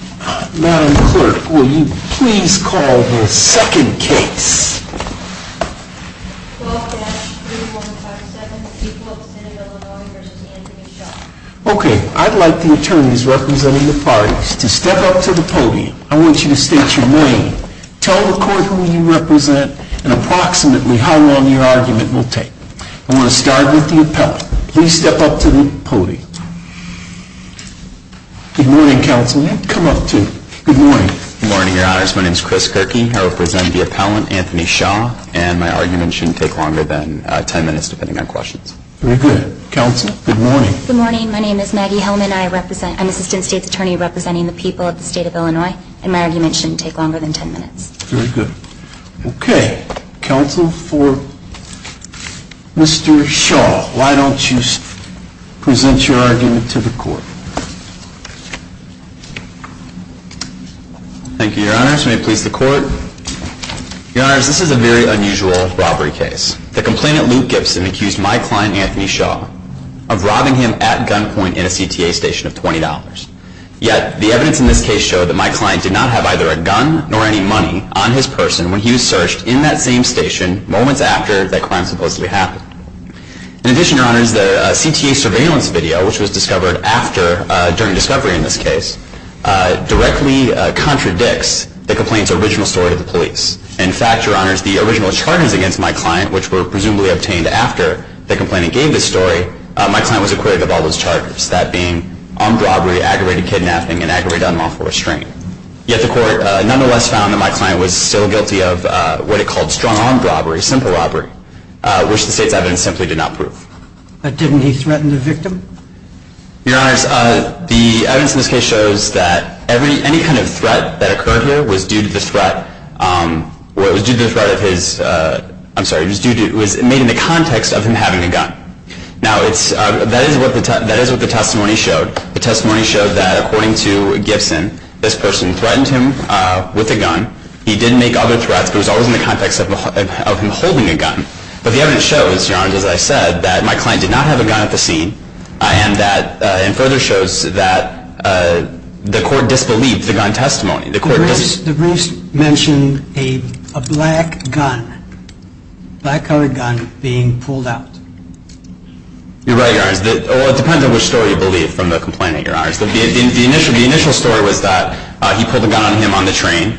Okay, I'd like the attorneys representing the parties to step up to the podium. I want you to state your name, tell the court who you represent, and approximately how long your argument will take. I'm going to start with the appellate. Please step up to the podium. Good morning, counsel. You can come up, too. Good morning. Good morning, your honors. My name is Chris Gerke. I represent the appellant, Anthony Shaw, and my argument shouldn't take longer than 10 minutes, depending on questions. Very good. Counsel, good morning. Good morning. My name is Maggie Hillman. I'm Assistant State's Attorney representing the people of the state of Illinois, and my argument shouldn't take longer than 10 minutes. Very good. Okay. Counsel for Mr. Shaw, why don't you present your argument to the court. Thank you, your honors. May it please the court. Your honors, this is a very unusual robbery case. The complainant, Luke Gibson, accused my client, Anthony Shaw, of robbing him at gunpoint in a CTA station of $20. Yet, the evidence in this case showed that my client did not have either a gun nor any money on his person when he was searched in that same station moments after that crime supposedly happened. In addition, your honors, the CTA surveillance video, which was discovered during discovery in this case, directly contradicts the complainant's original story to the police. In fact, your honors, the original charges against my client, which were presumably obtained after the complainant gave this story, my client was acquitted of all those charges, that being armed robbery, aggravated kidnapping, and aggravated unlawful restraint. Yet, the court nonetheless found that my client was still guilty of what it called strong armed robbery, simple robbery, which the state's evidence simply did not prove. But didn't he threaten the victim? Your honors, the evidence in this case shows that any kind of threat that occurred here was due to the threat of his, I'm sorry, was made in the context of him having a gun. Now, that is what the testimony showed. The testimony showed that, according to Gibson, this person threatened him with a gun. He did make other threats, but it was always in the context of him holding a gun. But the evidence shows, your honors, as I said, that my client did not have a gun at the scene, and further shows that the court disbelieved the gun testimony. The briefs mention a black gun, black colored gun, being pulled out. You're right, your honors. Well, it depends on which story you believe from the complainant, your honors. The initial story was that he pulled a gun on him on the train.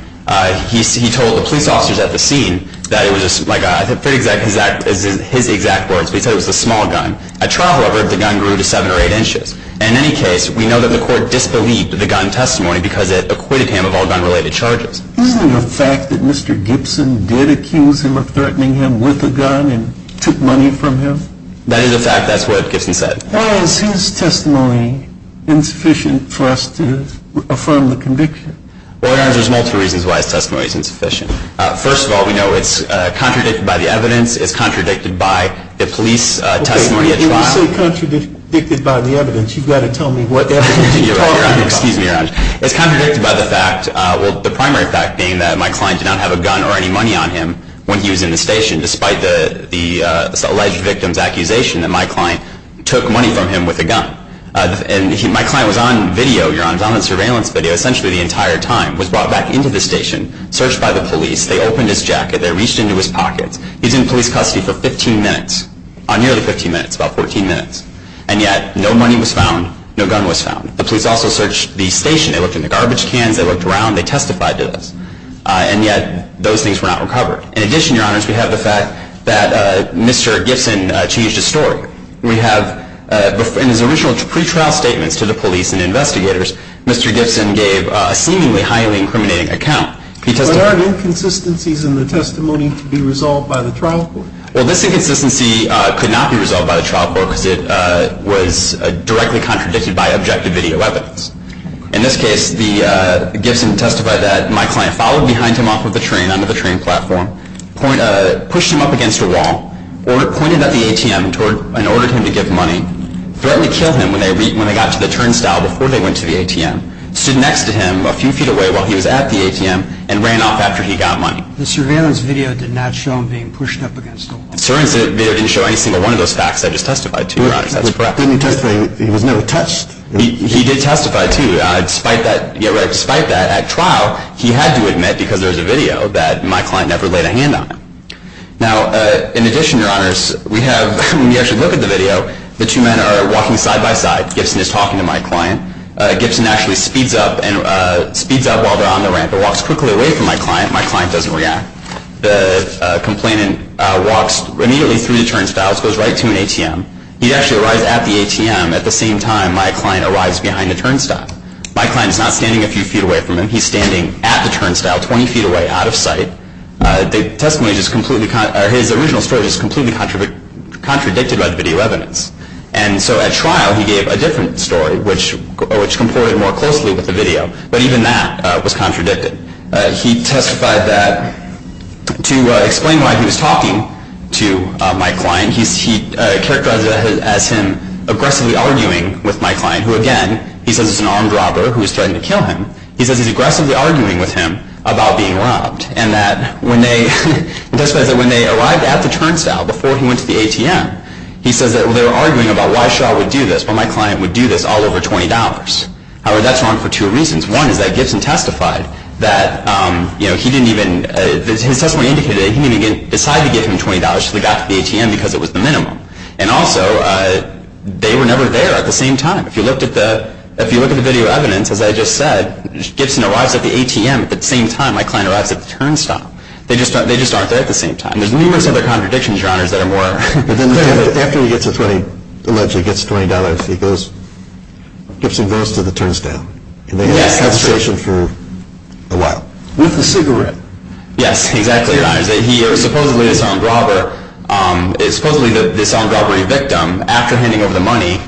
He told the police officers at the scene that it was, like, I forget his exact words, but he said it was a small gun. At trial, however, the gun grew to seven or eight inches. In any case, we know that the court disbelieved the gun testimony because it acquitted him of all gun-related charges. Isn't it a fact that Mr. Gibson did accuse him of threatening him with a gun and took money from him? That is a fact. That's what Gibson said. Why is his testimony insufficient for us to affirm the conviction? Well, your honors, there's multiple reasons why his testimony is insufficient. First of all, we know it's contradicted by the evidence. It's contradicted by the police testimony at trial. When you say contradicted by the evidence, you've got to tell me what evidence you're talking about. Excuse me, your honors. It's contradicted by the fact, well, the primary fact being that my client did not have a gun or any money on him when he was in the station, despite the alleged victim's accusation that my client took money from him with a gun. And my client was on video, your honors, on surveillance video essentially the entire time, was brought back into the station, searched by the police. They opened his jacket. They reached into his pockets. He was in police custody for 15 minutes, nearly 15 minutes, about 14 minutes. And yet no money was found. No gun was found. The police also searched the station. They looked in the garbage cans. They looked around. They testified to this. And yet those things were not recovered. In addition, your honors, we have the fact that Mr. Gibson changed his story. In his original pretrial statements to the police and investigators, Mr. Gibson gave a seemingly highly incriminating account. There are inconsistencies in the testimony to be resolved by the trial court. Well, this inconsistency could not be resolved by the trial court because it was directly contradicted by objective video evidence. In this case, Gibson testified that my client followed behind him off of the train onto the train platform, pushed him up against a wall, pointed at the ATM and ordered him to give money, threatened to kill him when they got to the turnstile before they went to the ATM, stood next to him a few feet away while he was at the ATM and ran off after he got money. The surveillance video did not show him being pushed up against a wall. The surveillance video didn't show any single one of those facts I just testified to, your honors. That's correct. He was never touched. He did testify, too. Despite that, at trial, he had to admit because there was a video that my client never laid a hand on him. Now, in addition, your honors, we have, when you actually look at the video, the two men are walking side by side. Gibson is talking to my client. Gibson actually speeds up and speeds up while they're on the ramp and walks quickly away from my client. My client doesn't react. The complainant walks immediately through the turnstiles, goes right to an ATM. He actually arrives at the ATM at the same time my client arrives behind the turnstile. My client is not standing a few feet away from him. He's standing at the turnstile, 20 feet away, out of sight. The testimony is completely, or his original story is completely contradicted by the video evidence. And so at trial, he gave a different story, which complied more closely with the video. But even that was contradicted. He testified that to explain why he was talking to my client, he characterized it as him aggressively arguing with my client, who, again, he says is an armed robber who is threatening to kill him. He says he's aggressively arguing with him about being robbed. And that when they arrived at the turnstile before he went to the ATM, he says that they were arguing about why Shaw would do this, why my client would do this all over $20. However, that's wrong for two reasons. One is that Gibson testified that he didn't even, his testimony indicated that he didn't even decide to give him $20 until he got to the ATM because it was the minimum. And also, they were never there at the same time. If you look at the video evidence, as I just said, Gibson arrives at the ATM at the same time my client arrives at the turnstile. They just aren't there at the same time. And there's numerous other contradictions, Your Honors, that are more clear. But then after he allegedly gets $20, Gibson goes to the turnstile. Yes. And they have a conversation for a while. With a cigarette. Yes, exactly, Your Honors. He was supposedly this armed robber, supposedly this armed robbery victim. After handing over the money,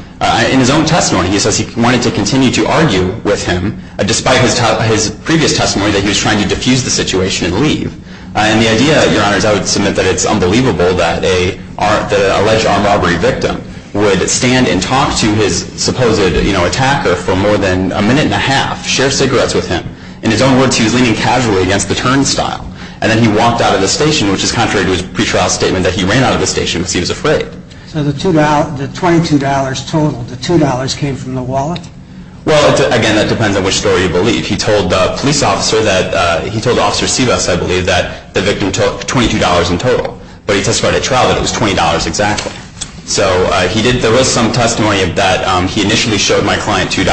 in his own testimony, he says he wanted to continue to argue with him, despite his previous testimony that he was trying to diffuse the situation and leave. And the idea, Your Honors, I would submit that it's unbelievable that an alleged armed robbery victim would stand and talk to his supposed attacker for more than a minute and a half, share cigarettes with him. In his own words, he was leaning casually against the turnstile. And then he walked out of the station, which is contrary to his pretrial statement that he ran out of the station because he was afraid. So the $22 total, the $2 came from the wallet? He told Officer Sebus, I believe, that the victim took $22 in total. But he testified at trial that it was $20 exactly. So there was some testimony that he initially showed my client $2.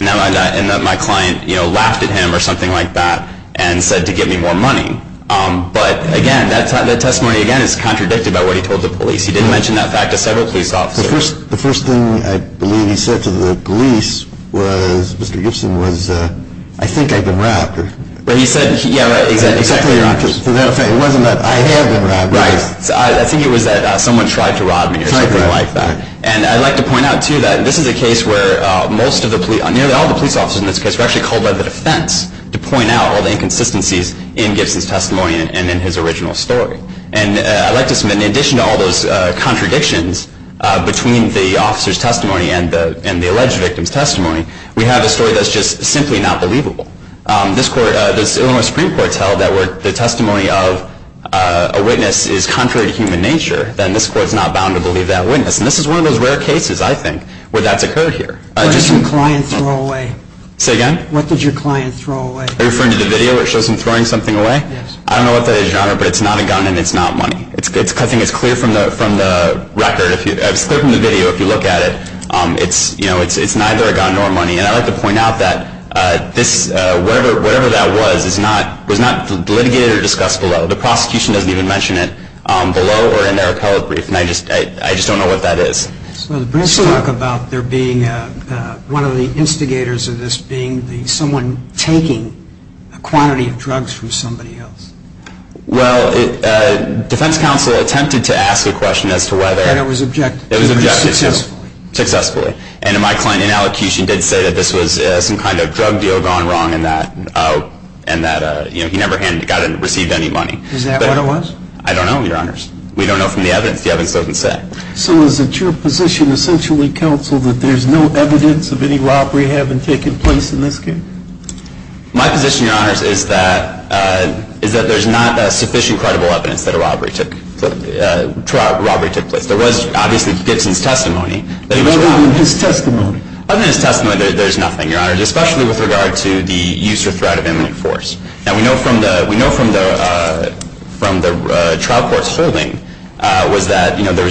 And my client laughed at him or something like that and said to give me more money. But, again, that testimony, again, is contradicted by what he told the police. He didn't mention that fact to several police officers. The first thing I believe he said to the police was, Mr. Gibson, was, I think I've been robbed. But he said, yeah, right, exactly. It wasn't that I have been robbed. Right. I think it was that someone tried to rob me or something like that. And I'd like to point out, too, that this is a case where most of the police, nearly all the police officers in this case, were actually called by the defense to point out all the inconsistencies in Gibson's testimony and in his original story. And I'd like to submit, in addition to all those contradictions between the officer's testimony and the alleged victim's testimony, we have a story that's just simply not believable. This Illinois Supreme Court's held that where the testimony of a witness is contrary to human nature, then this court's not bound to believe that witness. And this is one of those rare cases, I think, where that's occurred here. What did your client throw away? Say again? What did your client throw away? Are you referring to the video that shows him throwing something away? Yes. I don't know what that is, Your Honor, but it's not a gun and it's not money. I think it's clear from the record. It's clear from the video if you look at it. It's neither a gun nor money. And I'd like to point out that whatever that was was not litigated or discussed below. The prosecution doesn't even mention it below or in their appellate brief. And I just don't know what that is. So the briefs talk about there being one of the instigators of this being someone taking a quantity of drugs from somebody else. Well, defense counsel attempted to ask a question as to whether And it was objected to. It was objected to. Successfully. Successfully. And my client in allocution did say that this was some kind of drug deal gone wrong and that he never received any money. Is that what it was? I don't know, Your Honors. We don't know from the evidence. The evidence doesn't say. So is it your position, essentially, counsel, that there's no evidence of any robbery having taken place in this case? My position, Your Honors, is that there's not sufficient credible evidence that a robbery took place. There was, obviously, Gibson's testimony. Other than his testimony. Other than his testimony, there's nothing, Your Honors, especially with regard to the use or threat of imminent force. Now, we know from the trial court's holding was that there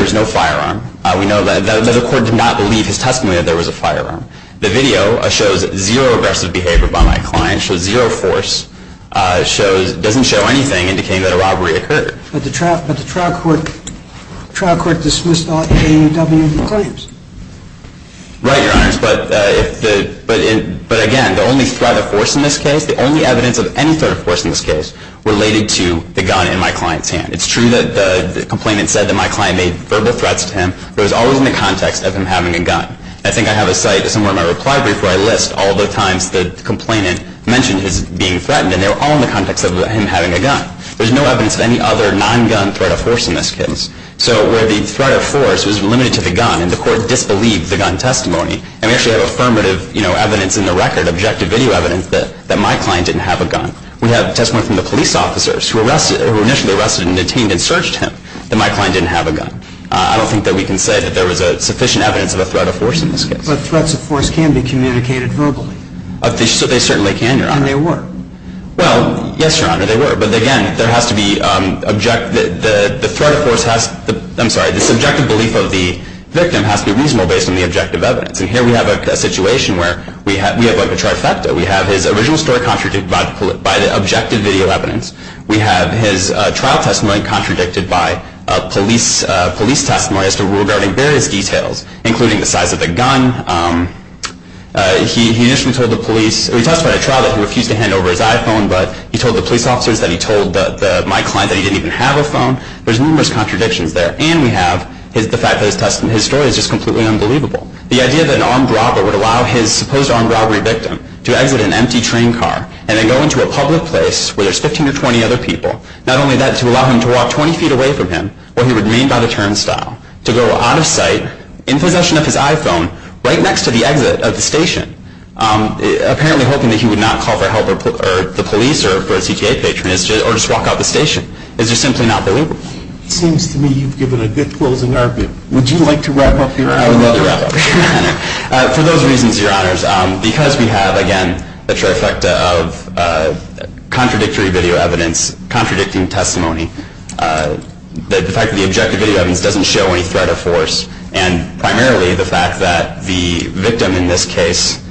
was no firearm. We know that the court did not believe his testimony that there was a firearm. The video shows zero aggressive behavior by my client. It shows zero force. It doesn't show anything indicating that a robbery occurred. But the trial court dismissed all AAUW claims. Right, Your Honors. But, again, the only threat of force in this case, the only evidence of any threat of force in this case, related to the gun in my client's hand. It's true that the complainant said that my client made verbal threats to him, but it was always in the context of him having a gun. I think I have a site somewhere in my reply brief where I list all the times the complainant mentioned his being threatened, and they were all in the context of him having a gun. There's no evidence of any other non-gun threat of force in this case. So where the threat of force was limited to the gun, and the court disbelieved the gun testimony, and we actually have affirmative evidence in the record, objective video evidence, that my client didn't have a gun. We have testimony from the police officers, who were initially arrested and detained and searched him, that my client didn't have a gun. I don't think that we can say that there was sufficient evidence of a threat of force in this case. But threats of force can be communicated verbally. They certainly can, Your Honor. And they were. Well, yes, Your Honor, they were. But, again, there has to be objective, the threat of force has, I'm sorry, the subjective belief of the victim has to be reasonable based on the objective evidence. And here we have a situation where we have like a trifecta. We have his original story contradicted by the objective video evidence. We have his trial testimony contradicted by police testimony as to regarding various details, including the size of the gun. He initially told the police, he testified at trial that he refused to hand over his iPhone, but he told the police officers that he told my client that he didn't even have a phone. There's numerous contradictions there. And we have the fact that his story is just completely unbelievable. The idea that an armed robber would allow his supposed armed robbery victim to exit an empty train car and then go into a public place where there's 15 or 20 other people, not only that, to allow him to walk 20 feet away from him, where he would maintain by the turnstile, to go out of sight, in possession of his iPhone, right next to the exit of the station, apparently hoping that he would not call for help, or the police, or a CTA patron, or just walk out the station, is just simply not believable. It seems to me you've given a good closing argument. Would you like to wrap up your honor? I would love to wrap up your honor. For those reasons, your honors, because we have, again, the trifecta of contradictory video evidence contradicting testimony, the fact that the objective video evidence doesn't show any threat or force, and primarily the fact that the victim in this case,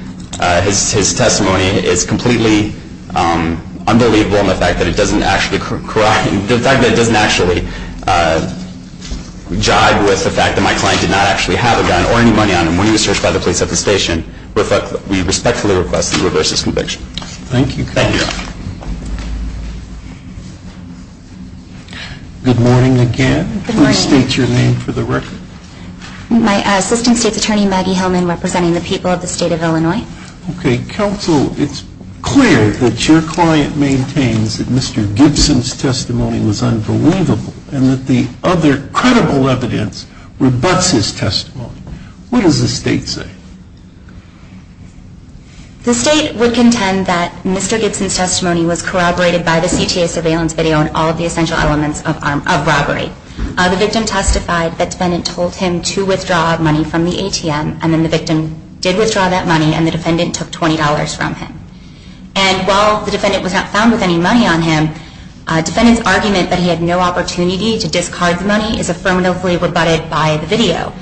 his testimony is completely unbelievable and the fact that it doesn't actually jive with the fact that my client did not actually have a gun or any money on him when he was searched by the police at the station, we respectfully request that you reverse this conviction. Thank you. Good morning again. Good morning. Please state your name for the record. My assistant state's attorney, Maggie Hillman, representing the people of the state of Illinois. Okay, counsel, it's clear that your client maintains that Mr. Gibson's testimony was unbelievable and that the other credible evidence rebuts his testimony. What does the state say? The state would contend that Mr. Gibson's testimony was corroborated by the CTA surveillance video and all of the essential elements of robbery. The victim testified that the defendant told him to withdraw money from the ATM and then the victim did withdraw that money and the defendant took $20 from him. And while the defendant was not found with any money on him, defendant's argument that he had no opportunity to discard the money is affirmatively rebutted by the video.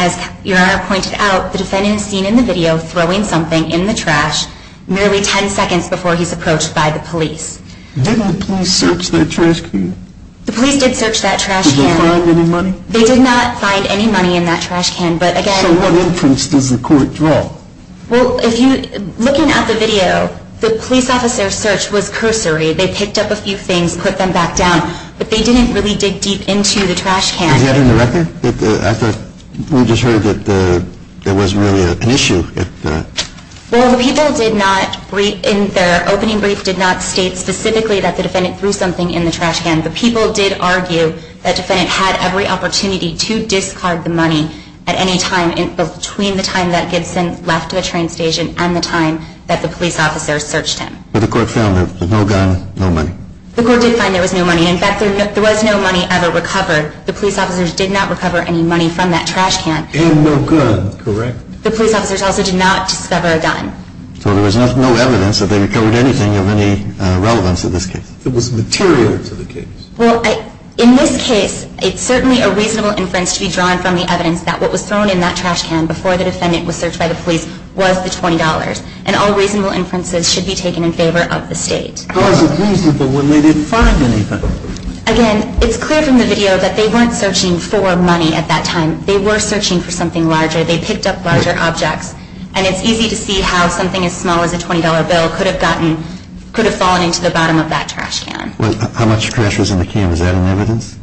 As your Honor pointed out, the defendant is seen in the video throwing something in the trash merely 10 seconds before he's approached by the police. Didn't the police search that trash can? The police did search that trash can. Did they find any money? They did not find any money in that trash can, but again... So what inference does the court draw? Well, looking at the video, the police officer's search was cursory. They picked up a few things, put them back down, but they didn't really dig deep into the trash can. Is that in the record? I thought we just heard that there wasn't really an issue. Well, the people did not, in their opening brief, did not state specifically that the defendant threw something in the trash can. The people did argue that the defendant had every opportunity to discard the money at any time between the time that Gibson left the train station and the time that the police officers searched him. But the court found that there was no gun, no money. The court did find there was no money. In fact, there was no money ever recovered. The police officers did not recover any money from that trash can. And no gun, correct. The police officers also did not discover a gun. So there was no evidence that they recovered anything of any relevance in this case. It was material to the case. Well, in this case, it's certainly a reasonable inference to be drawn from the evidence that what was thrown in that trash can before the defendant was searched by the police was the $20. And all reasonable inferences should be taken in favor of the State. How is it reasonable when they didn't find anything? Again, it's clear from the video that they weren't searching for money at that time. They were searching for something larger. They picked up larger objects. And it's easy to see how something as small as a $20 bill could have fallen into the bottom of that trash can. How much trash was in the can? Is that an evidence?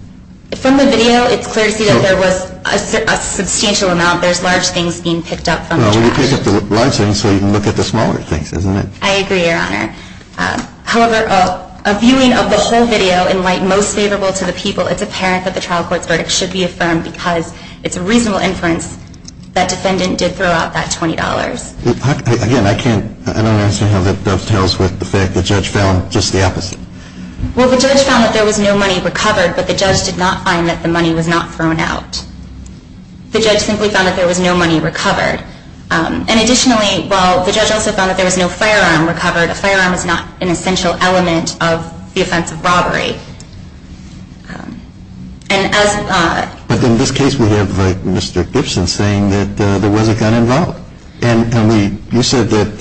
From the video, it's clear to see that there was a substantial amount. There's large things being picked up from the trash. Well, you pick up the large things so you can look at the smaller things, isn't it? I agree, Your Honor. However, a viewing of the whole video, in light most favorable to the people, it's apparent that the trial court's verdict should be affirmed because it's a reasonable inference that defendant did throw out that $20. Again, I don't understand how that dovetails with the fact that Judge Fallon did the opposite. Well, the judge found that there was no money recovered, but the judge did not find that the money was not thrown out. The judge simply found that there was no money recovered. And additionally, while the judge also found that there was no firearm recovered, a firearm is not an essential element of the offense of robbery. But in this case, we have Mr. Gibson saying that there was a gun involved. And you said that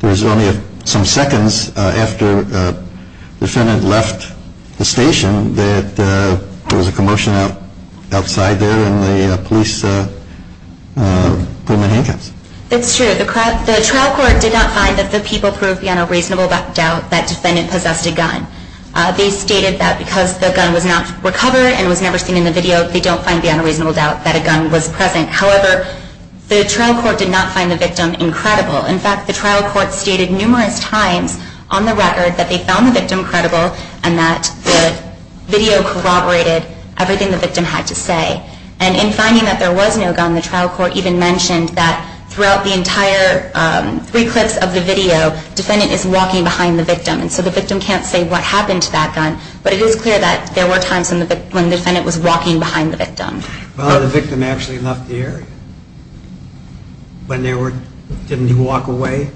there was only some seconds after the defendant left the station that there was a commotion outside there and the police put him in handcuffs. That's true. The trial court did not find that the people proved beyond a reasonable doubt that defendant possessed a gun. They stated that because the gun was not recovered and was never seen in the video, they don't find beyond a reasonable doubt that a gun was present. However, the trial court did not find the victim incredible. In fact, the trial court stated numerous times on the record that they found the victim credible and that the video corroborated everything the victim had to say. And in finding that there was no gun, the trial court even mentioned that throughout the entire three clips of the video, defendant is walking behind the victim. And so the victim can't say what happened to that gun. But it is clear that there were times when the defendant was walking behind the victim. Well, the victim actually left the area. Didn't he walk away?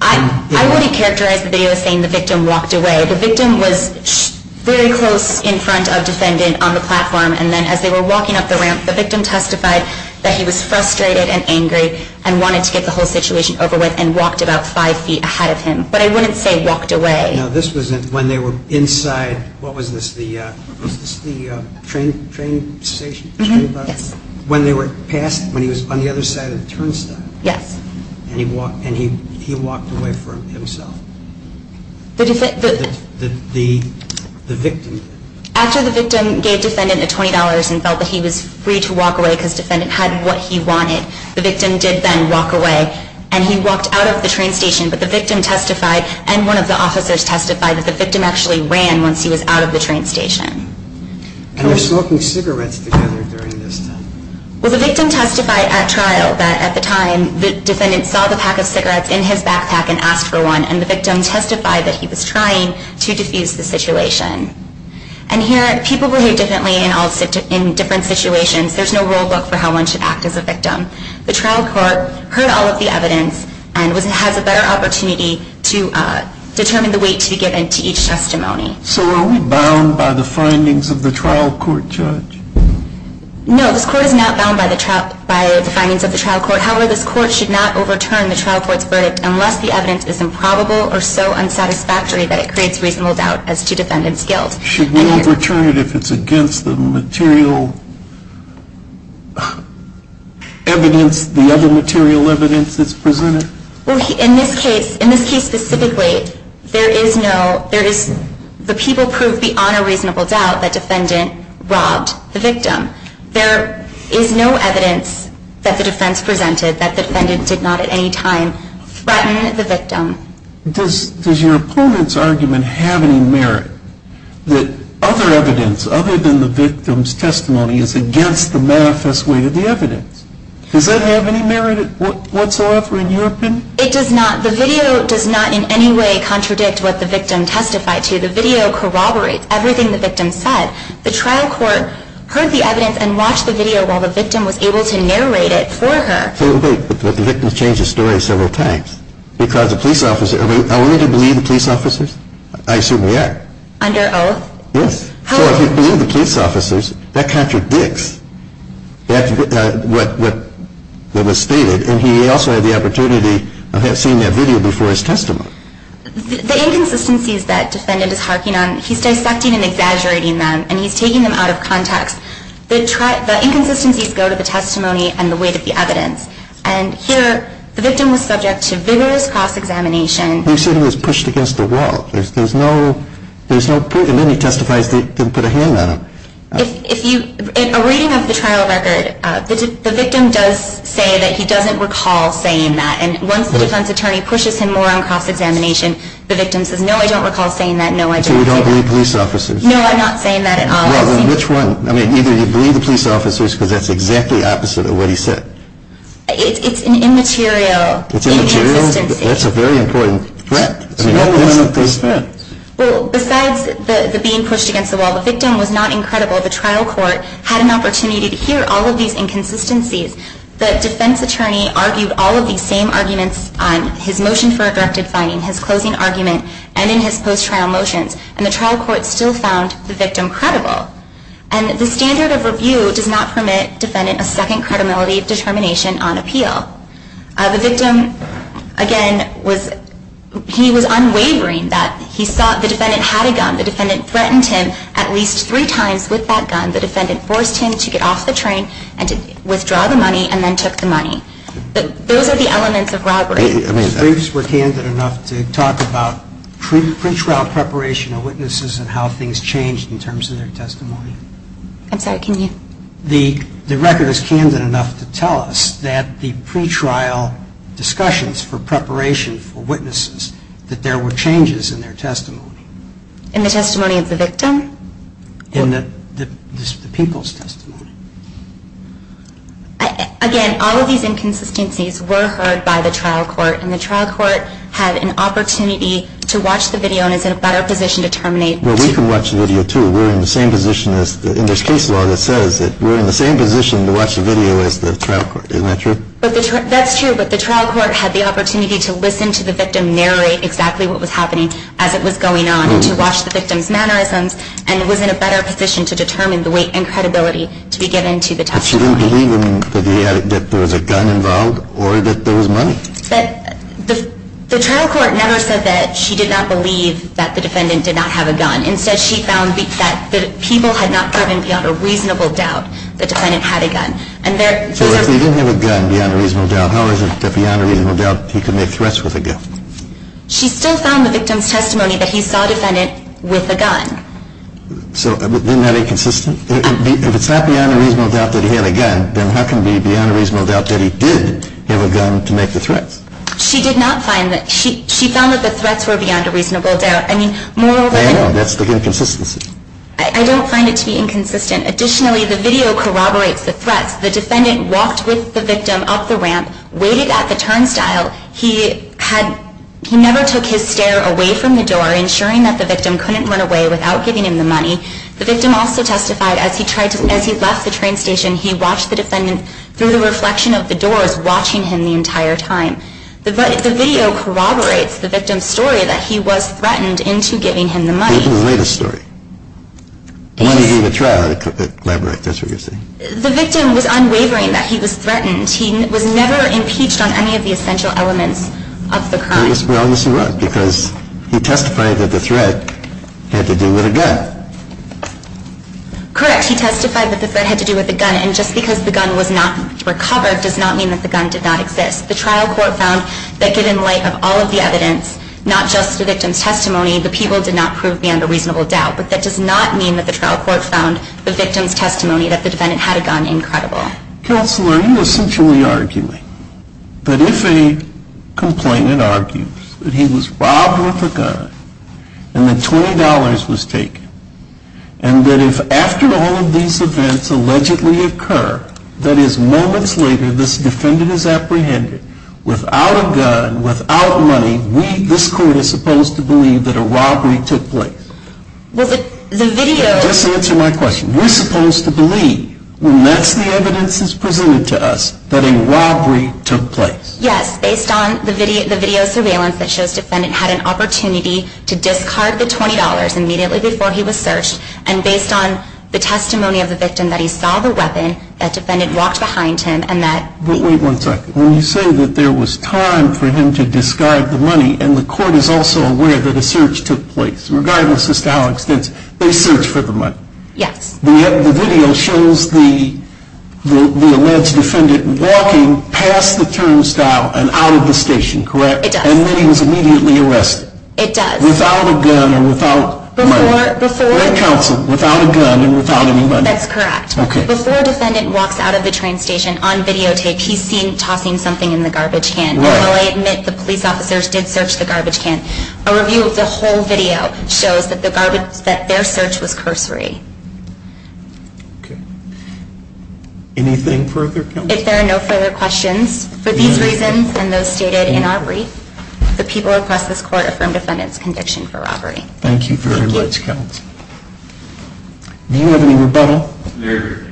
I wouldn't characterize the video as saying the victim walked away. The victim was very close in front of defendant on the platform. And then as they were walking up the ramp, the victim testified that he was frustrated and angry and wanted to get the whole situation over with and walked about five feet ahead of him. But I wouldn't say walked away. Now, this was when they were inside, what was this, the train station? Yes. When they were past, when he was on the other side of the turnstile. Yes. And he walked away for himself. The victim did. After the victim gave defendant a $20 and felt that he was free to walk away because defendant had what he wanted, the victim did then walk away. And he walked out of the train station, but the victim testified and one of the officers testified that the victim actually ran once he was out of the train station. And they're smoking cigarettes together during this time. Well, the victim testified at trial that at the time the defendant saw the pack of cigarettes in his backpack and asked for one, and the victim testified that he was trying to defuse the situation. And here, people behave differently in different situations. The trial court heard all of the evidence and has a better opportunity to determine the weight to be given to each testimony. So are we bound by the findings of the trial court, Judge? No, this court is not bound by the findings of the trial court. However, this court should not overturn the trial court's verdict unless the evidence is improbable or so unsatisfactory that it creates reasonable doubt as to defendant's guilt. Should we overturn it if it's against the material evidence, the other material evidence that's presented? Well, in this case, in this case specifically, there is no, there is, the people proved beyond a reasonable doubt that defendant robbed the victim. There is no evidence that the defense presented that the defendant did not at any time threaten the victim. Does your opponent's argument have any merit that other evidence other than the victim's testimony is against the manifest weight of the evidence? Does that have any merit whatsoever in your opinion? It does not. The video does not in any way contradict what the victim testified to. The video corroborates everything the victim said. The trial court heard the evidence and watched the video while the victim was able to narrate it for her. So wait, but the victim changed his story several times because the police officer, are we allowed to believe the police officers? I assume we are. Under oath? Yes. So if you believe the police officers, that contradicts what was stated and he also had the opportunity of seeing that video before his testimony. The inconsistencies that defendant is harking on, he's dissecting and exaggerating them and he's taking them out of context. The inconsistencies go to the testimony and the weight of the evidence. And here, the victim was subject to vigorous cross-examination. You said he was pushed against the wall. And then he testifies that he didn't put a hand on him. In a reading of the trial record, the victim does say that he doesn't recall saying that. And once the defense attorney pushes him more on cross-examination, the victim says, no, I don't recall saying that. So you don't believe police officers? No, I'm not saying that at all. Well, then which one? I mean, either you believe the police officers because that's exactly opposite of what he said. It's an immaterial inconsistency. It's immaterial? That's a very important threat. Well, besides the being pushed against the wall, the victim was not incredible. The trial court had an opportunity to hear all of these inconsistencies. The defense attorney argued all of these same arguments on his motion for a directed finding, his closing argument, and in his post-trial motions. And the trial court still found the victim credible. And the standard of review does not permit defendant a second credibility determination on appeal. The victim, again, he was unwavering that he saw the defendant had a gun. The defendant threatened him at least three times with that gun. The defendant forced him to get off the train and to withdraw the money and then took the money. Those are the elements of robbery. The briefs were candid enough to talk about pre-trial preparation of witnesses and how things changed in terms of their testimony. I'm sorry, can you? The record is candid enough to tell us that the pre-trial discussions for preparation for witnesses, that there were changes in their testimony. In the people's testimony. Again, all of these inconsistencies were heard by the trial court. And the trial court had an opportunity to watch the video and is in a better position to terminate. Well, we can watch the video, too. We're in the same position as, in this case law that says that we're in the same position to watch the video as the trial court. Isn't that true? That's true, but the trial court had the opportunity to listen to the victim narrate exactly what was happening as it was going on and to watch the victim's mannerisms and was in a better position to determine the weight and credibility to be given to the testimony. But she didn't believe that there was a gun involved or that there was money. The trial court never said that she did not believe that the defendant did not have a gun. Instead, she found that the people had not driven beyond a reasonable doubt that the defendant had a gun. So if he didn't have a gun beyond a reasonable doubt, how is it that beyond a reasonable doubt he could make threats with a gun? She still found the victim's testimony that he saw the defendant with a gun. So isn't that inconsistent? If it's not beyond a reasonable doubt that he had a gun, then how can it be beyond a reasonable doubt that he did have a gun to make the threats? She did not find that. She found that the threats were beyond a reasonable doubt. I know, that's the inconsistency. I don't find it to be inconsistent. Additionally, the video corroborates the threats. The defendant walked with the victim up the ramp, waited at the turnstile. He never took his stare away from the door, ensuring that the victim couldn't run away without giving him the money. The victim also testified as he left the train station, he watched the defendant through the reflection of the doors, watching him the entire time. The video corroborates the victim's story that he was threatened into giving him the money. What was the latest story? Why did he do the trial? Elaborate, that's what you're saying. The victim was unwavering that he was threatened. He was never impeached on any of the essential elements of the crime. Well, obviously not, because he testified that the threat had to do with a gun. Correct. He testified that the threat had to do with a gun, and just because the gun was not recovered does not mean that the gun did not exist. The trial court found that given light of all of the evidence, not just the victim's testimony, the people did not prove beyond a reasonable doubt, but that does not mean that the trial court found the victim's testimony that the defendant had a gun incredible. Counselor, are you essentially arguing that if a complainant argues that he was robbed with a gun, and that $20 was taken, and that if after all of these events allegedly occur, that is moments later this defendant is apprehended without a gun, without money, this court is supposed to believe that a robbery took place? Well, the video... Just answer my question. We're supposed to believe, when that's the evidence that's presented to us, that a robbery took place. Yes, based on the video surveillance that shows the defendant had an opportunity to discard the $20 immediately before he was searched, and based on the testimony of the victim, that he saw the weapon, that defendant walked behind him, and that... But wait one second. When you say that there was time for him to discard the money, and the court is also aware that a search took place, regardless as to how extensive, they searched for the money. Yes. The video shows the alleged defendant walking past the turnstile and out of the station, correct? It does. And then he was immediately arrested. It does. Without a gun and without money. Before... At counsel, without a gun and without any money. That's correct. Okay. Before a defendant walks out of the train station on videotape, he's seen tossing something in the garbage can. Right. Although I admit the police officers did search the garbage can. A review of the whole video shows that their search was cursory. Okay. Anything further, counsel? If there are no further questions, for these reasons and those stated in our brief, the people across this court affirm defendant's conviction for robbery. Thank you very much, counsel. Thank you. Do you have any rebuttal? There is no rebuttal.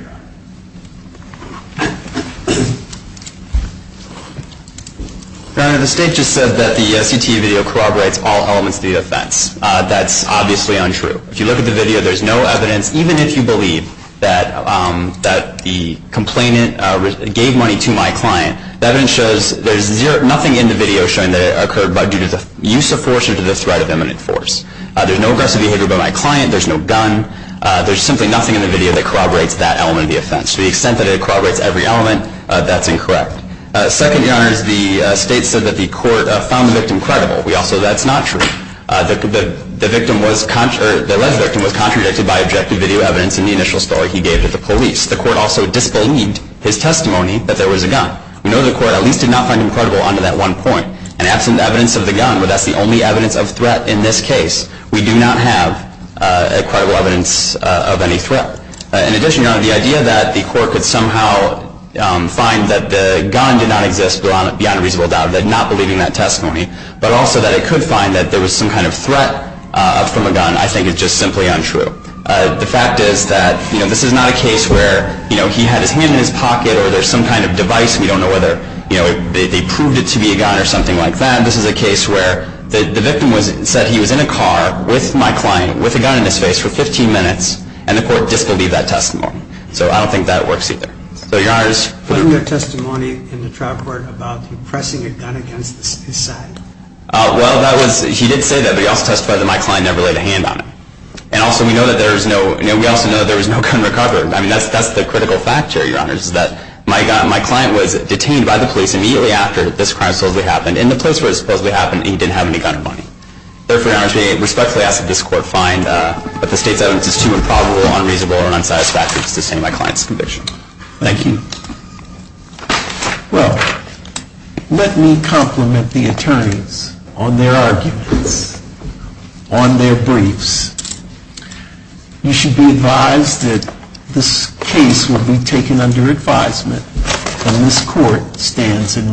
The state just said that the CTE video corroborates all elements of the offense. That's obviously untrue. If you look at the video, there's no evidence, even if you believe that the complainant gave money to my client, the evidence shows there's nothing in the video showing that it occurred due to the use of force or to the threat of imminent force. There's no aggressive behavior by my client. There's no gun. There's simply nothing in the video that corroborates that element of the offense. To the extent that it corroborates every element, that's incorrect. Second, Your Honors, the state said that the court found the victim credible. Also, that's not true. The alleged victim was contradicted by objective video evidence in the initial story he gave to the police. The court also disbelieved his testimony that there was a gun. We know the court at least did not find him credible on to that one point. And absent evidence of the gun, where that's the only evidence of threat in this case, we do not have a credible evidence of any threat. In addition, Your Honor, the idea that the court could somehow find that the gun did not exist, beyond a reasonable doubt of not believing that testimony, but also that it could find that there was some kind of threat from a gun, I think is just simply untrue. The fact is that this is not a case where he had his hand in his pocket or there's some kind of device, and we don't know whether they proved it to be a gun or something like that. This is a case where the victim said he was in a car with my client, with a gun in his face, for 15 minutes, and the court disbelieved that testimony. So I don't think that works either. So, Your Honors, In your testimony in the trial court about him pressing a gun against his side? Well, he did say that, but he also testified that my client never laid a hand on him. And also, we know that there was no gun recovered. I mean, that's the critical factor, Your Honors, is that my client was detained by the police immediately after this crime supposedly happened, in the place where it supposedly happened, and he didn't have any gun money. Therefore, Your Honors, we respectfully ask that this court find that the state's evidence is too improbable, unreasonable, or unsatisfactory to sustain my client's conviction. Thank you. Well, let me compliment the attorneys on their arguments, on their briefs. You should be advised that this case will be taken under advisement, and this court stands in recess.